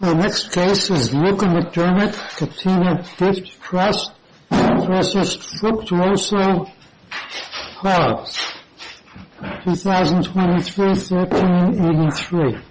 Our next case is Luca McDermott Catena Gift Trust v. Fructuoso-Hobbs, 2023-13-83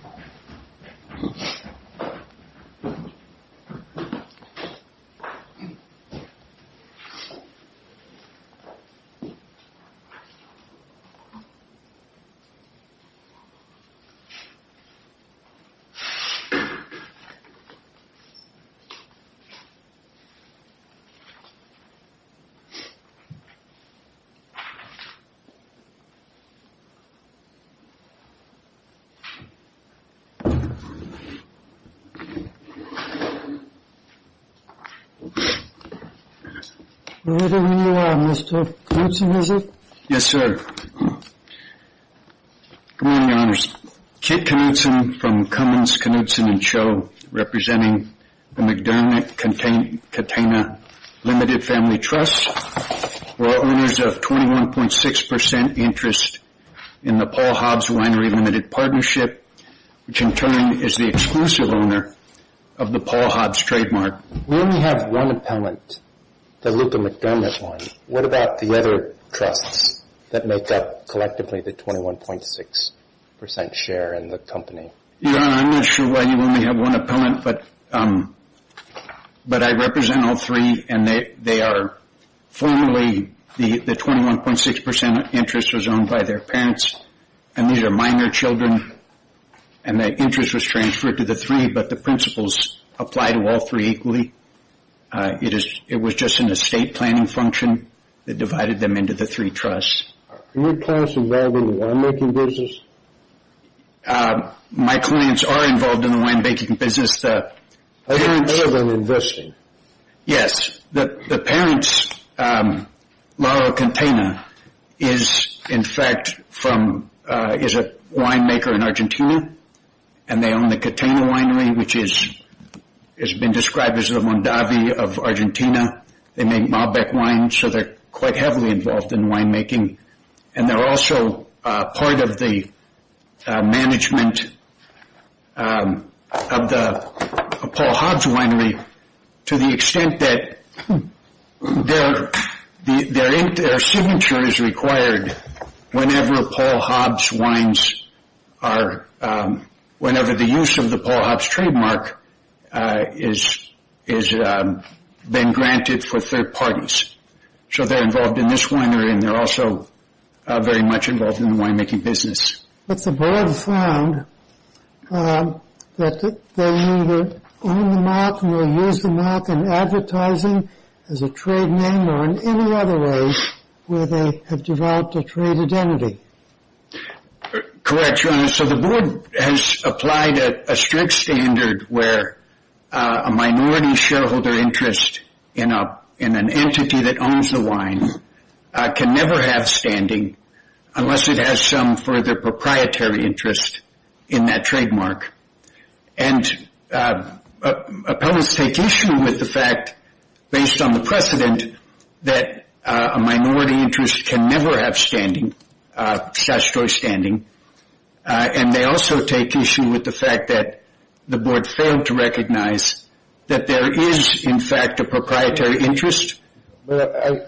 What do we have on the line, Mr. Knutson, is it? Yes sir. Good morning, Your Honors. Kit Knutson from Cummins, Knutson & Cho representing the McDermott Catena Limited Family Trust. We're all owners of 21.6% interest in the Paul Hobbs Winery Limited Partnership, which in turn is the exclusive owner of the Paul Hobbs trademark. We only have one appellant, the Luca McDermott one. What about the other trusts that make up collectively the 21.6% share in the company? Your Honor, I'm not sure why you only have one appellant, but I represent all three and they are formally the 21.6% interest was owned by their parents and these are minor children and that interest was transferred to the three, but the principles apply to all three equally. It was just an estate planning function that divided them into the three trusts. Are your clients involved in the winemaking business? My clients are involved in the winemaking business. Are they invested? Yes. The parents, Laura Catena, is in fact a winemaker in Argentina and they own the Catena Winery, which has been described as the Mondavi of Argentina. They make Malbec wine, so they're quite heavily involved in winemaking. They're also part of the management of the Paul Hobbs Winery to the extent that their signature is required whenever Paul Hobbs wines are, whenever the use of the Paul Hobbs trademark is being granted for third parties. So they're involved in this winery and they're also very much involved in the winemaking business. But the board found that they either own the mark or use the mark in advertising as a trade name or in any other way where they have developed a trade identity. Correct, Your Honor. So the board has applied a strict standard where a minority shareholder interest in an entity that owns the wine can never have standing unless it has some further proprietary interest in that trademark. And appellants take issue with the fact, based on the precedent, that a minority interest can never have standing, statutory standing. And they also take issue with the fact that the board failed to recognize that there is, in fact, a proprietary interest. Well,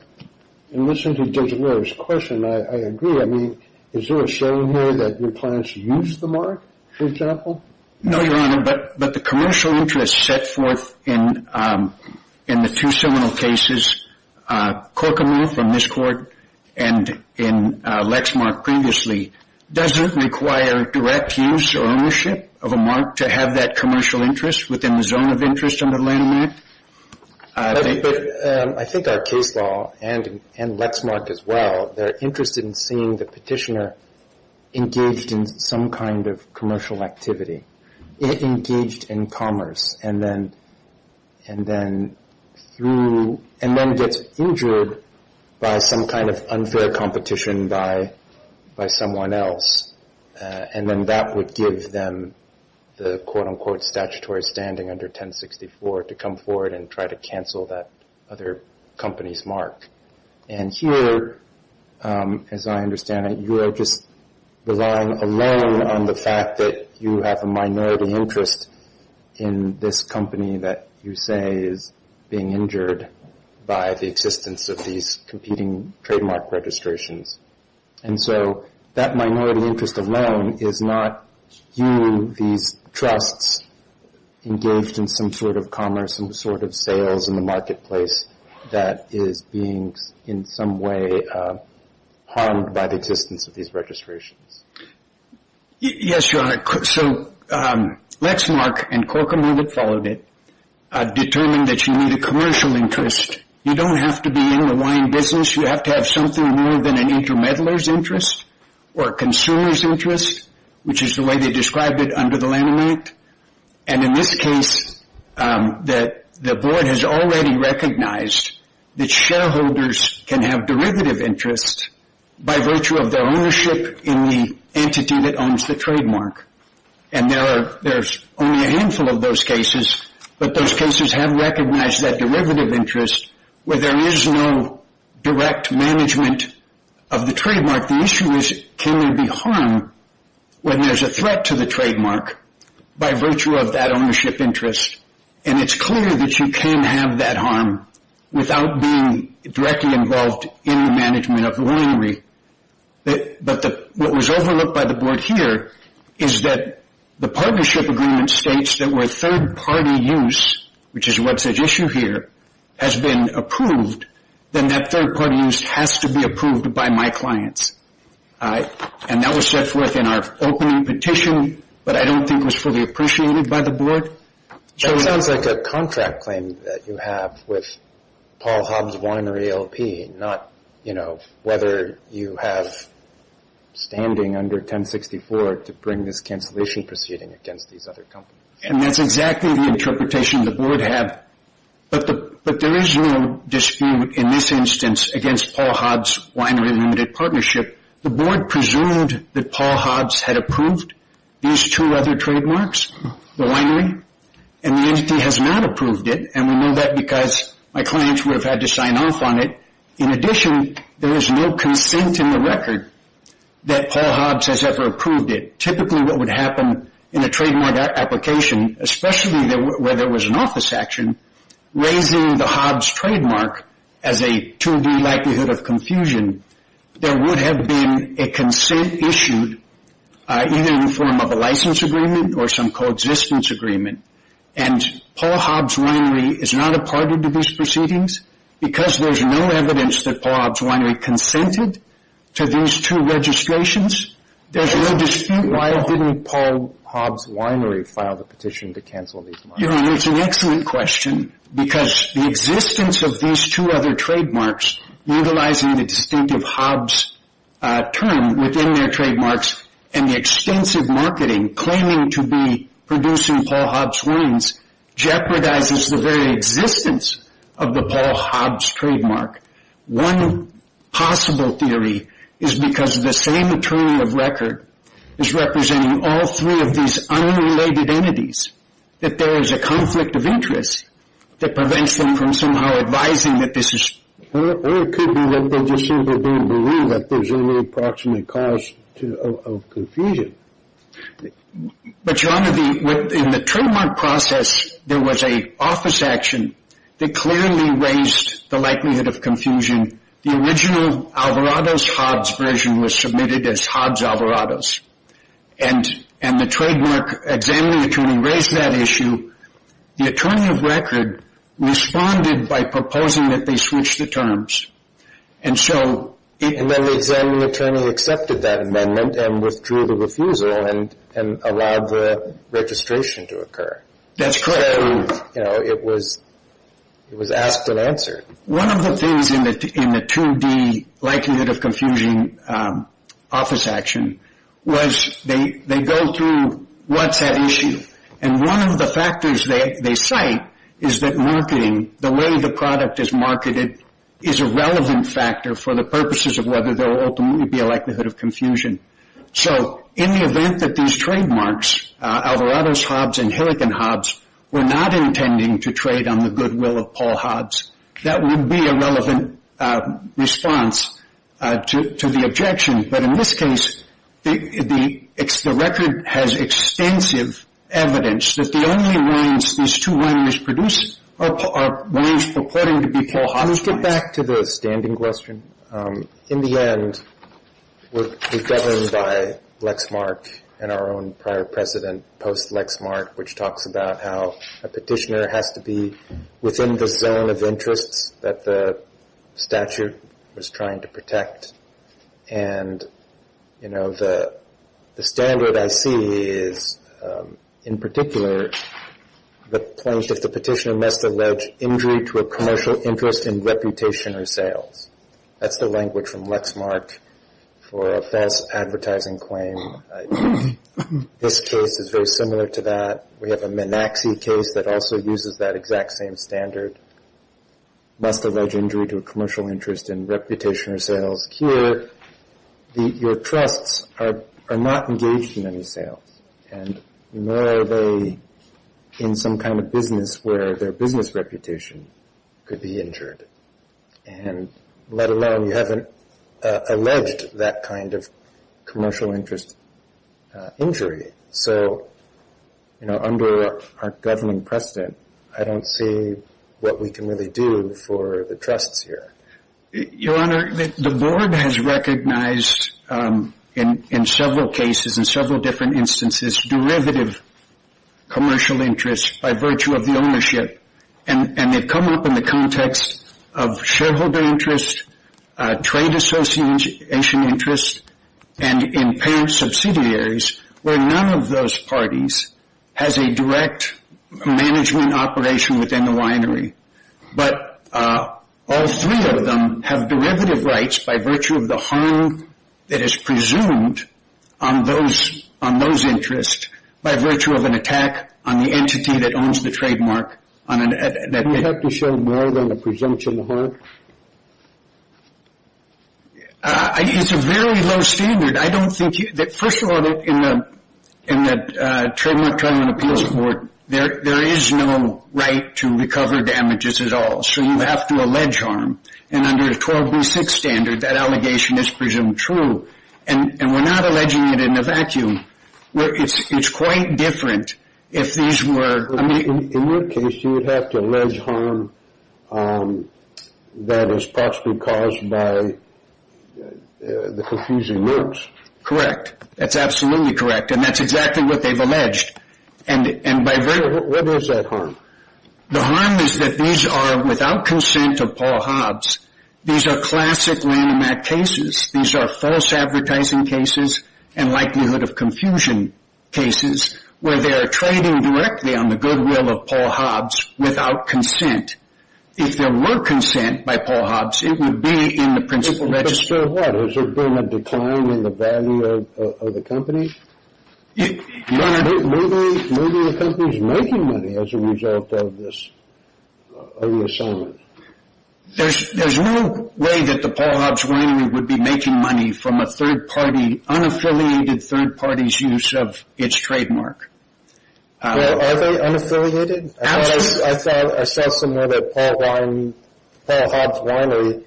in listening to Judge Loehr's question, I agree. I mean, is there a saying here that appellants use the mark, for example? No, Your Honor, but the commercial interest set forth in the two seminal cases, Corkamoo from this court and in Lexmark previously, doesn't require direct use or ownership of a mark to have that commercial interest within the zone of interest under the landmark. I think our case law and Lexmark as well, they're interested in seeing the petitioner engaged in some kind of commercial activity, engaged in commerce, and then gets injured by some kind of unfair competition by someone else. And then that would give them the quote-unquote statutory standing under 1064 to come forward and try to cancel that other company's mark. And here, as I understand it, you are just relying alone on the fact that you have a minority interest in this company that you say is being injured by the existence of these competing trademark registrations. And so that minority interest alone is not you, these trusts, engaged in some sort of commerce, some sort of sales in the marketplace that is being in some way harmed by the existence of these registrations. Yes, Your Honor. So Lexmark and Corkamoo that followed it determined that you need a commercial interest. You don't have to be in the wine business. You have to have something more than an inter-meddler's interest or a consumer's interest, which is the way they described it under the laminate. And in this case, the board has already recognized that shareholders can have derivative interest by virtue of their ownership in the entity that owns the trademark. And there's only a handful of those cases, but those cases have recognized that derivative interest where there is no direct management of the trademark. The issue is can there be harm when there's a threat to the trademark by virtue of that ownership interest. And it's clear that you can have that harm without being directly involved in the management of the winery. But what was overlooked by the board here is that the partnership agreement states that where third-party use, which is what's at issue here, has been approved, then that third-party use has to be approved by my clients. And that was set forth in our opening petition, but I don't think it was fully appreciated by the board. That sounds like a contract claim that you have with Paul Hobbs Winery LP, not whether you have standing under 1064 to bring this cancellation proceeding against these other companies. And that's exactly the interpretation the board had, but there is no dispute in this instance against Paul Hobbs Winery Limited Partnership. The board presumed that Paul Hobbs had approved these two other trademarks, the winery, and the entity has not approved it, and we know that because my clients would have had to sign off on it. In addition, there is no consent in the record that Paul Hobbs has ever approved it. Typically what would happen in a trademark application, especially where there was an office action, raising the Hobbs trademark as a 2D likelihood of confusion, there would have been a consent issued either in the form of a license agreement or some coexistence agreement. And Paul Hobbs Winery is not a party to these proceedings because there's no evidence that Paul Hobbs Winery consented to these two registrations. There's no dispute. Why didn't Paul Hobbs Winery file the petition to cancel these markets? It's an excellent question because the existence of these two other trademarks, utilizing the distinctive Hobbs term within their trademarks, and the extensive marketing claiming to be producing Paul Hobbs wines, jeopardizes the very existence of the Paul Hobbs trademark. One possible theory is because the same attorney of record is representing all three of these unrelated entities, that there is a conflict of interest that prevents them from somehow advising that this is... Or it could be that they just simply don't believe that there's any approximate cause of confusion. But John, in the trademark process, there was an office action that clearly raised the likelihood of confusion. The original Alvarado's Hobbs version was submitted as Hobbs Alvarado's. And the trademark examining attorney raised that issue. The attorney of record responded by proposing that they switch the terms. And so... And then the examining attorney accepted that amendment and withdrew the refusal and allowed the registration to occur. That's correct. So, you know, it was asked and answered. One of the things in the 2D likelihood of confusion office action was they go through what's at issue. And one of the factors they cite is that marketing, the way the product is marketed, is a relevant factor for the purposes of whether there will ultimately be a likelihood of confusion. So in the event that these trademarks, Alvarado's Hobbs and Hillikin Hobbs, were not intending to trade on the goodwill of Paul Hobbs, that would be a relevant response to the objection. But in this case, the record has extensive evidence that the only wines these two wineries produce are wines purporting to be Paul Hobbs wines. Let's get back to the standing question. In the end, we're governed by Lexmark and our own prior president, Post Lexmark, which talks about how a petitioner has to be within the zone of interests that the statute was trying to protect. And, you know, the standard I see is, in particular, the point if the petitioner must allege injury to a commercial interest in reputation or sales. That's the language from Lexmark for a false advertising claim. This case is very similar to that. We have a Minaxi case that also uses that exact same standard, must allege injury to a commercial interest in reputation or sales. Here, your trusts are not engaged in any sales. And nor are they in some kind of business where their business reputation could be injured. And let alone, you haven't alleged that kind of commercial interest injury. So, you know, under our governing precedent, I don't see what we can really do for the trusts here. Your Honor, the board has recognized in several cases, in several different instances, derivative commercial interests by virtue of the ownership. And they've come up in the context of shareholder interest, trade association interest, and in parent subsidiaries where none of those parties has a direct management operation within the winery. But all three of them have derivative rights by virtue of the harm that is presumed on those interests by virtue of an attack on the entity that owns the trademark. Do you have to show more than a presumption of harm? It's a very low standard. First of all, in the Trademark Treatment Appeals Board, there is no right to recover damages at all. So you have to allege harm. And under the 12B6 standard, that allegation is presumed true. And we're not alleging it in a vacuum. It's quite different if these were. In your case, you would have to allege harm that is possibly caused by the confusing notes. Correct. That's absolutely correct. And that's exactly what they've alleged. What is that harm? The harm is that these are without consent of Paul Hobbs. These are classic landmark cases. These are false advertising cases and likelihood of confusion cases where they are trading directly on the goodwill of Paul Hobbs without consent. If there were consent by Paul Hobbs, it would be in the principal register. But still what? Has there been a decline in the value of the company? Maybe the company is making money as a result of this, of the assignment. There's no way that the Paul Hobbs winery would be making money from a third party, the unaffiliated third party's use of its trademark. Are they unaffiliated? Absolutely. I saw somewhere that Paul Hobbs Winery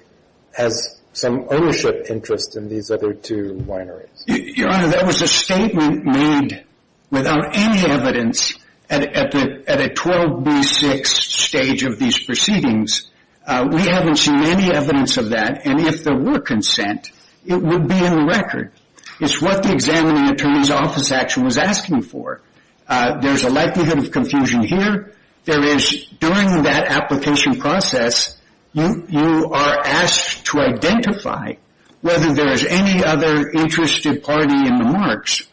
has some ownership interest in these other two wineries. Your Honor, that was a statement made without any evidence at a 12B6 stage of these proceedings. We haven't seen any evidence of that. If there were consent, it would be in the record. It's what the examining attorney's office actually was asking for. There's a likelihood of confusion here. There is, during that application process, you are asked to identify whether there is any other interested party in the marks.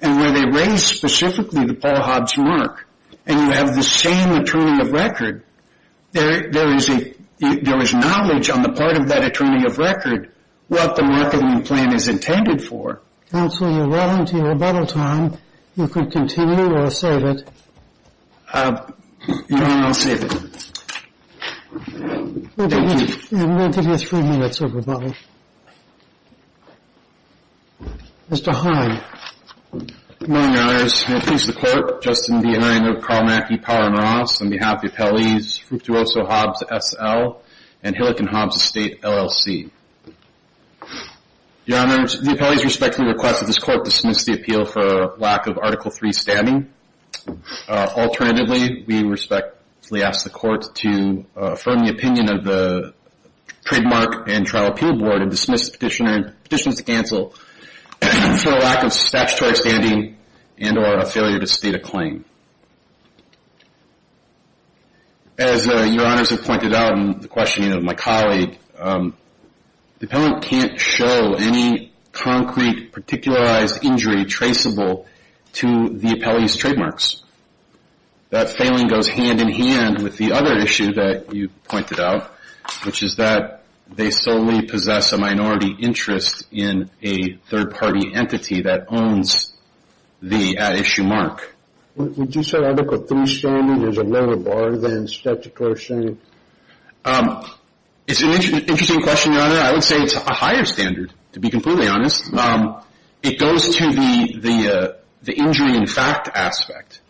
Where they raise specifically the Paul Hobbs mark and you have the same attorney of record, there is knowledge on the part of that attorney of record what the marketing plan is intended for. Counsel, you're well into your rebuttal time. You can continue or save it. Your Honor, I'll save it. Thank you. We'll give you three minutes of rebuttal. Mr. Heine. Good morning, Your Honors. I'm here to please the Court. Justin D. Heine of Karl Mackey Power & Ross, on behalf of the appellees, Fructuoso Hobbs SL, and Hillican Hobbs Estate LLC. Your Honors, the appellees respectfully request that this Court dismiss the appeal for lack of Article III standing. Alternatively, we respectfully ask the Court to affirm the opinion of the Trademark and Trial Appeal Board and dismiss petitions to cancel for lack of statutory standing and or a failure to state a claim. As Your Honors have pointed out in the questioning of my colleague, the appellant can't show any concrete, particularized injury traceable to the appellee's trademarks. That failing goes hand-in-hand with the other issue that you pointed out, which is that they solely possess a minority interest in a third-party entity that owns the at-issue mark. Would you say Article III standing is a lower bar than statutory standing? It's an interesting question, Your Honor. I would say it's a higher standard, to be completely honest. It goes to the injury in fact aspect.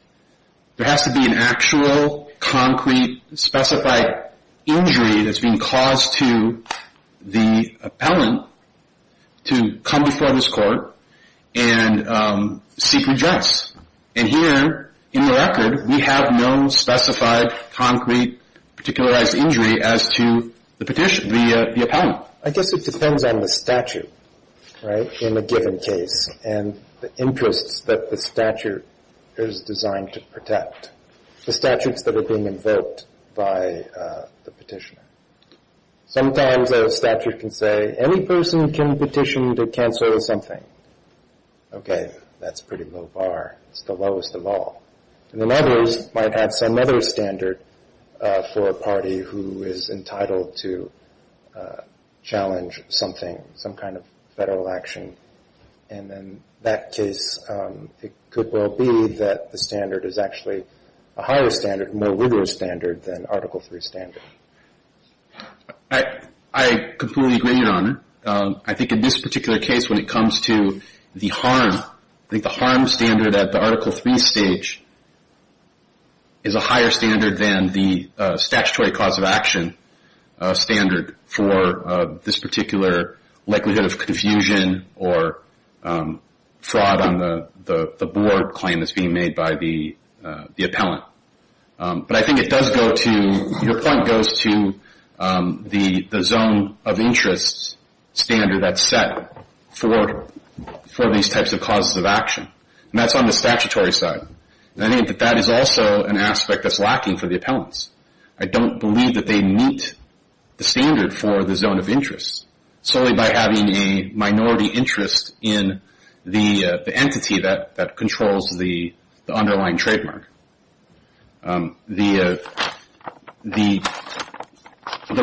There has to be an actual, concrete, specified injury that's being caused to the appellant to come before this Court and seek redress. And here, in the record, we have no specified, concrete, particularized injury as to the petition, the appellant. I guess it depends on the statute, right, in a given case, and the interests that the statute is designed to protect, the statutes that are being invoked by the petitioner. Sometimes a statute can say, any person can petition to cancel something. Okay, that's a pretty low bar. It's the lowest of all. And then others might have some other standard for a party who is entitled to challenge something, some kind of federal action. And in that case, it could well be that the standard is actually a higher standard, more rigorous standard, than Article III standard. I completely agree, Your Honor. I think in this particular case, when it comes to the harm, I think the harm standard at the Article III stage is a higher standard than the statutory cause of action standard for this particular likelihood of confusion or fraud on the board claim that's being made by the appellant. But I think it does go to, your point goes to the zone of interest standard that's set for these types of causes of action. And that's on the statutory side. And I think that that is also an aspect that's lacking for the appellants. I don't believe that they meet the standard for the zone of interest, solely by having a minority interest in the entity that controls the underlying trademark. The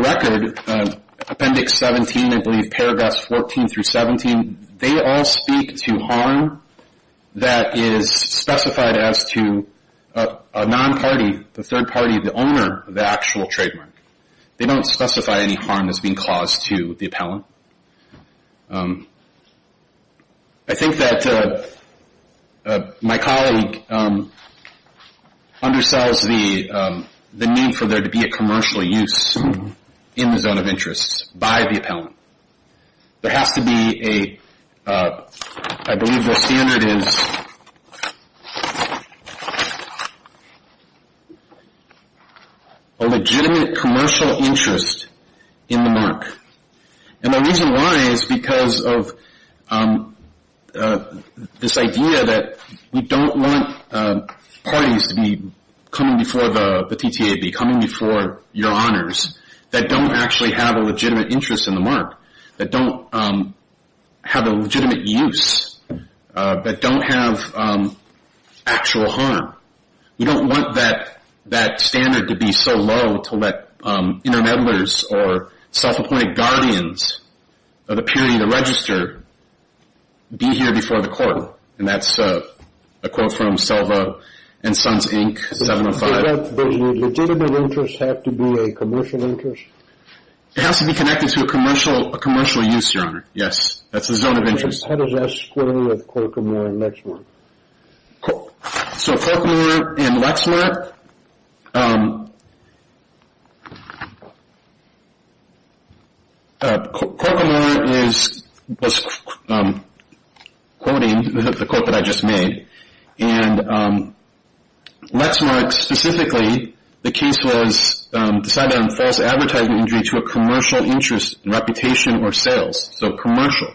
record, Appendix 17, I believe, paragraphs 14 through 17, they all speak to harm that is specified as to a non-party, the third party, the owner of the actual trademark. They don't specify any harm that's being caused to the appellant. I think that my colleague undersells the need for there to be a commercial use in the zone of interest by the appellant. There has to be a, I believe the standard is a legitimate commercial interest in the mark. And the reason why is because of this idea that we don't want parties to be coming before the TTAB, coming before your honors, that don't actually have a legitimate interest in the mark, that don't have a legitimate use, that don't have actual harm. We don't want that standard to be so low to let intermediaries or self-appointed guardians of the purity of the register be here before the court. And that's a quote from Selva and Sons, Inc., 705. Does the legitimate interest have to be a commercial interest? It has to be connected to a commercial use, your honor. Yes. That's the zone of interest. How does that square with Corkamore and Lexmark? So Corkamore and Lexmark. Corkamore was quoting the quote that I just made. And Lexmark specifically, the case was decided on false advertising injury to a commercial interest, reputation, or sales. So commercial,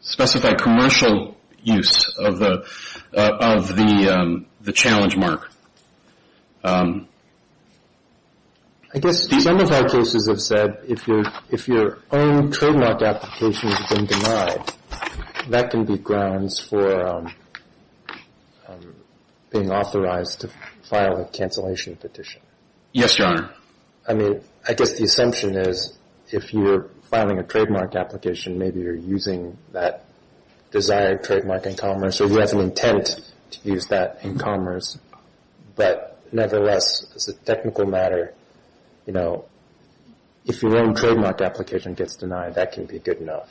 specified commercial use of the challenge mark. I guess some of our cases have said if your own trademark application has been denied, that can be grounds for being authorized to file a cancellation petition. Yes, your honor. I mean, I guess the assumption is if you're filing a trademark application, maybe you're using that desired trademark in commerce or you have an intent to use that in commerce. But nevertheless, as a technical matter, you know, if your own trademark application gets denied, that can be good enough.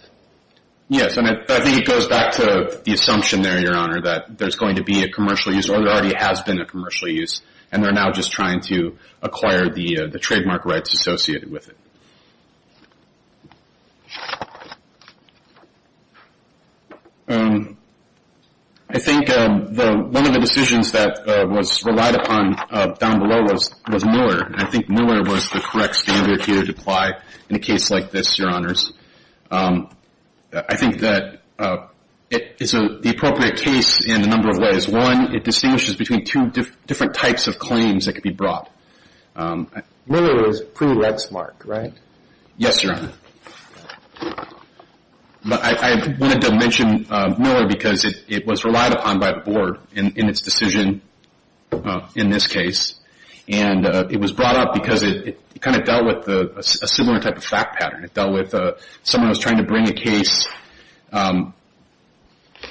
Yes, and I think it goes back to the assumption there, your honor, that there's going to be a commercial use or there already has been a commercial use, and they're now just trying to acquire the trademark rights associated with it. I think one of the decisions that was relied upon down below was Mueller, and I think Mueller was the correct standard here to apply in a case like this, your honors. I think that it is the appropriate case in a number of ways. One, it distinguishes between two different types of claims that could be brought. Mueller was pre-redsmart, right? Yes, your honor. But I wanted to mention Mueller because it was relied upon by the board in its decision in this case, and it was brought up because it kind of dealt with a similar type of fact pattern. It dealt with someone was trying to bring a case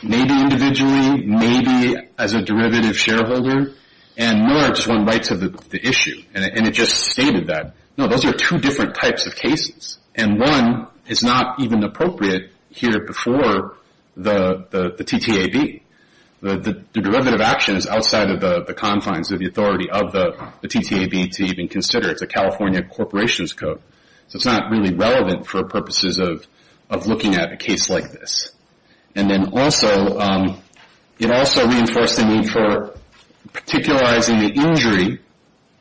maybe individually, maybe as a derivative shareholder, and Mueller just wanted rights of the issue. And it just stated that, no, those are two different types of cases, and one is not even appropriate here before the TTAB. The derivative action is outside of the confines of the authority of the TTAB to even consider. It's a California corporation's code. So it's not really relevant for purposes of looking at a case like this. And then also, it also reinforced the need for particularizing the injury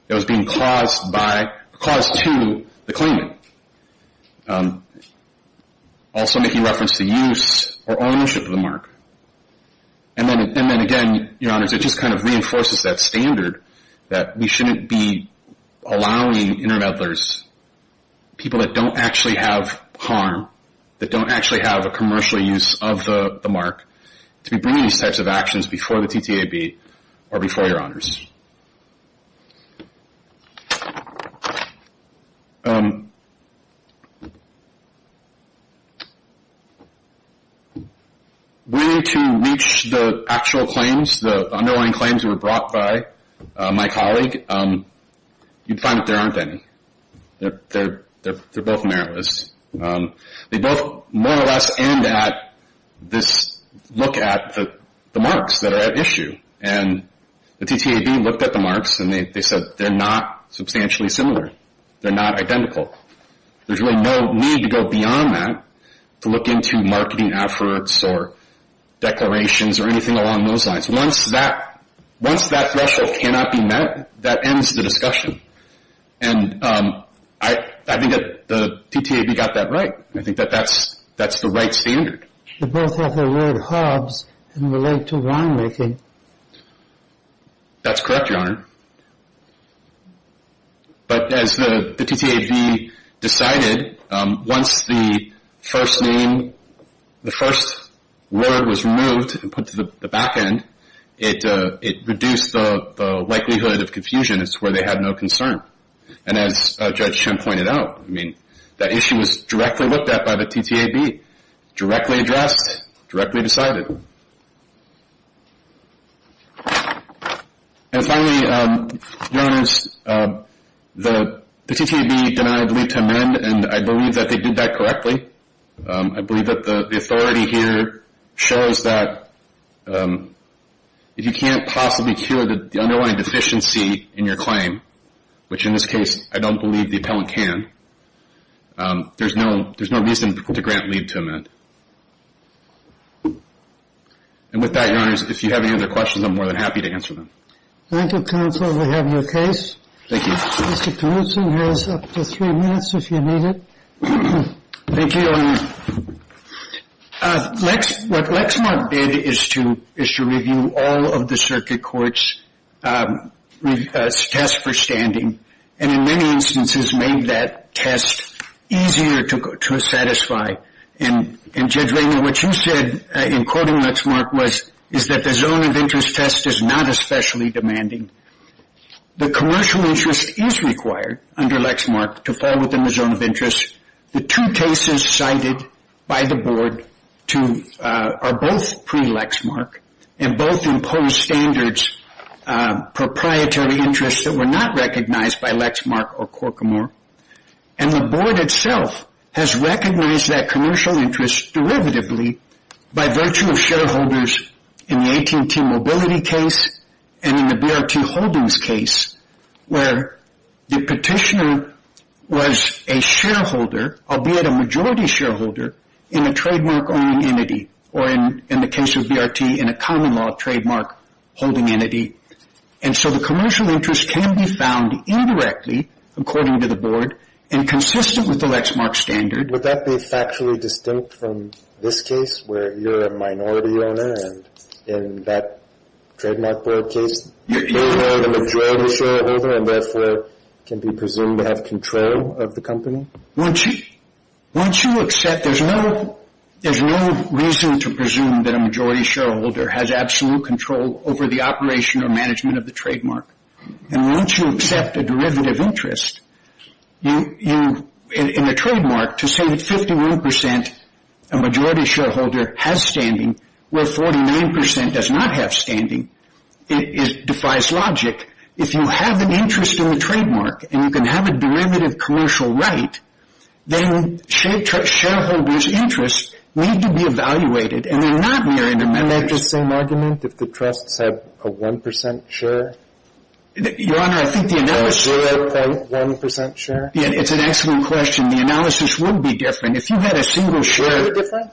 that was being caused to the claimant, also making reference to use or ownership of the mark. And then again, your honors, it just kind of reinforces that standard that we shouldn't be allowing intermeddlers, people that don't actually have harm, that don't actually have a commercial use of the mark, to be bringing these types of actions before the TTAB or before your honors. We need to reach the actual claims, the underlying claims that were brought by my colleague. You'd find that there aren't any. They're both meritless. They both more or less end at this look at the marks that are at issue. And the TTAB looked at the marks and they said they're not substantially similar. They're not identical. There's really no need to go beyond that to look into marketing efforts or declarations or anything along those lines. Once that threshold cannot be met, that ends the discussion. And I think that the TTAB got that right. I think that that's the right standard. They both have the word Hobbs and relate to winemaking. That's correct, your honor. But as the TTAB decided, once the first name, the first word was removed and put to the back end, it reduced the likelihood of confusion. It's where they had no concern. And as Judge Shim pointed out, I mean, that issue was directly looked at by the TTAB, directly addressed, directly decided. And finally, your honors, the TTAB denied leave to amend, and I believe that they did that correctly. I believe that the authority here shows that if you can't possibly cure the underlying deficiency in your claim, which in this case I don't believe the appellant can, there's no reason to grant leave to amend. And with that, your honors, if you have any other questions, I'm more than happy to answer them. Thank you, counsel. We have your case. Thank you. Mr. Knutson has up to three minutes if you need it. Thank you. What Lexmark did is to review all of the circuit court's test for standing, and in many instances made that test easier to satisfy. And Judge Raymond, what you said in quoting Lexmark was, is that the zone of interest test is not especially demanding. The commercial interest is required under Lexmark to fall within the zone of interest. The two cases cited by the board are both pre-Lexmark and both impose standards proprietary interests that were not recognized by Lexmark or Corcomore. And the board itself has recognized that commercial interest derivatively by virtue of shareholders in the AT&T Mobility case and in the BRT Holdings case where the petitioner was a shareholder, albeit a majority shareholder, in a trademark-owning entity or, in the case of BRT, in a common-law trademark-holding entity. And so the commercial interest can be found indirectly, according to the board, and consistent with the Lexmark standard. Would that be factually distinct from this case where you're a minority owner and in that trademark board case you're the majority shareholder and therefore can be presumed to have control of the company? Once you accept, there's no reason to presume that a majority shareholder has absolute control over the operation or management of the trademark. And once you accept a derivative interest in the trademark, to say that 51% a majority shareholder has standing where 49% does not have standing defies logic. If you have an interest in the trademark and you can have a derivative commercial right, then shareholders' interests need to be evaluated and they're not mere intermediaries. Isn't that just the same argument? If the trusts have a 1% share? Your Honor, I think the analysis – Do they have a 1% share? Yeah, it's an excellent question. The analysis would be different. If you had a single share – Would it be different?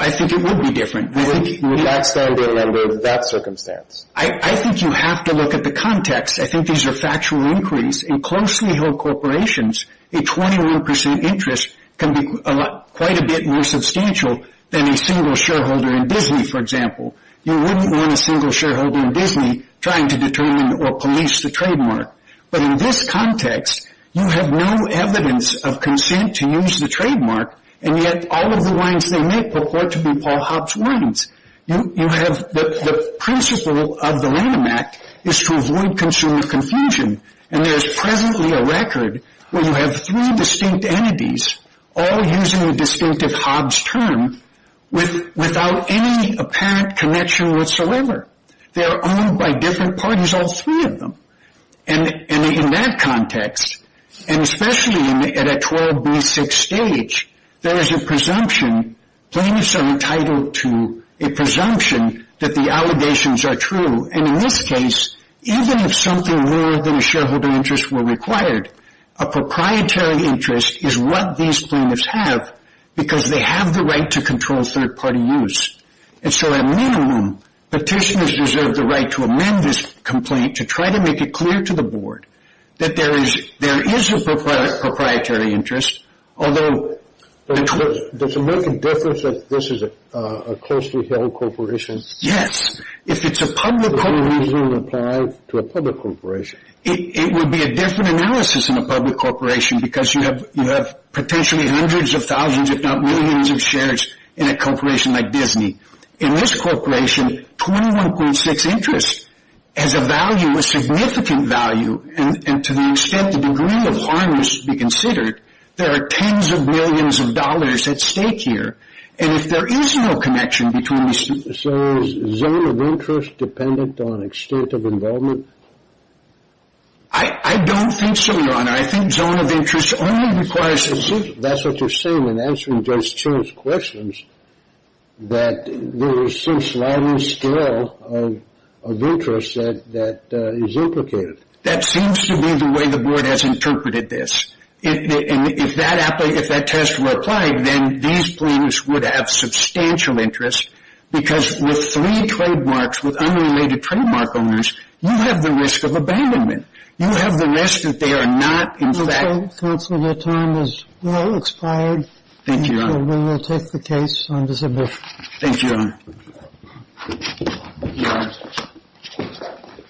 I think it would be different. Would that stand a lender in that circumstance? I think you have to look at the context. I think these are factual inquiries. In closely held corporations, a 21% interest can be quite a bit more substantial than a single shareholder in Disney, for example. You wouldn't want a single shareholder in Disney trying to determine or police the trademark. But in this context, you have no evidence of consent to use the trademark, and yet all of the wines they make purport to be Paul Hopps wines. The principle of the Lanham Act is to avoid consumer confusion, and there is presently a record where you have three distinct entities, all using the distinctive Hobbs term, without any apparent connection whatsoever. They are owned by different parties, all three of them. And in that context, and especially at a 12B6 stage, there is a presumption plaintiffs are entitled to a presumption that the allegations are true. And in this case, even if something more than a shareholder interest were required, a proprietary interest is what these plaintiffs have because they have the right to control third-party use. And so at minimum, petitioners deserve the right to amend this complaint to try to make it clear to the board that there is a proprietary interest, although... Does it make a difference that this is a closely-held corporation? Yes. If it's a public corporation... Does the reasoning apply to a public corporation? It would be a different analysis in a public corporation because you have potentially hundreds of thousands, if not millions of shares, in a corporation like Disney. In this corporation, 21.6% interest has a value, a significant value, and to the extent the degree of harm is to be considered, there are tens of millions of dollars at stake here. And if there is no connection between... So is zone of interest dependent on extent of involvement? I don't think so, Your Honor. I think zone of interest only requires... That's what you're saying in answering Judge Chiu's questions, that there is some sliding scale of interest that is implicated. That seems to be the way the board has interpreted this. If that test were applied, then these claims would have substantial interest because with three trademarks, with unrelated trademark owners, you have the risk of abandonment. You have the risk that they are not in fact... Counsel, your time has now expired. Thank you, Your Honor. We will take the case on December... Thank you, Your Honor. Your Honor.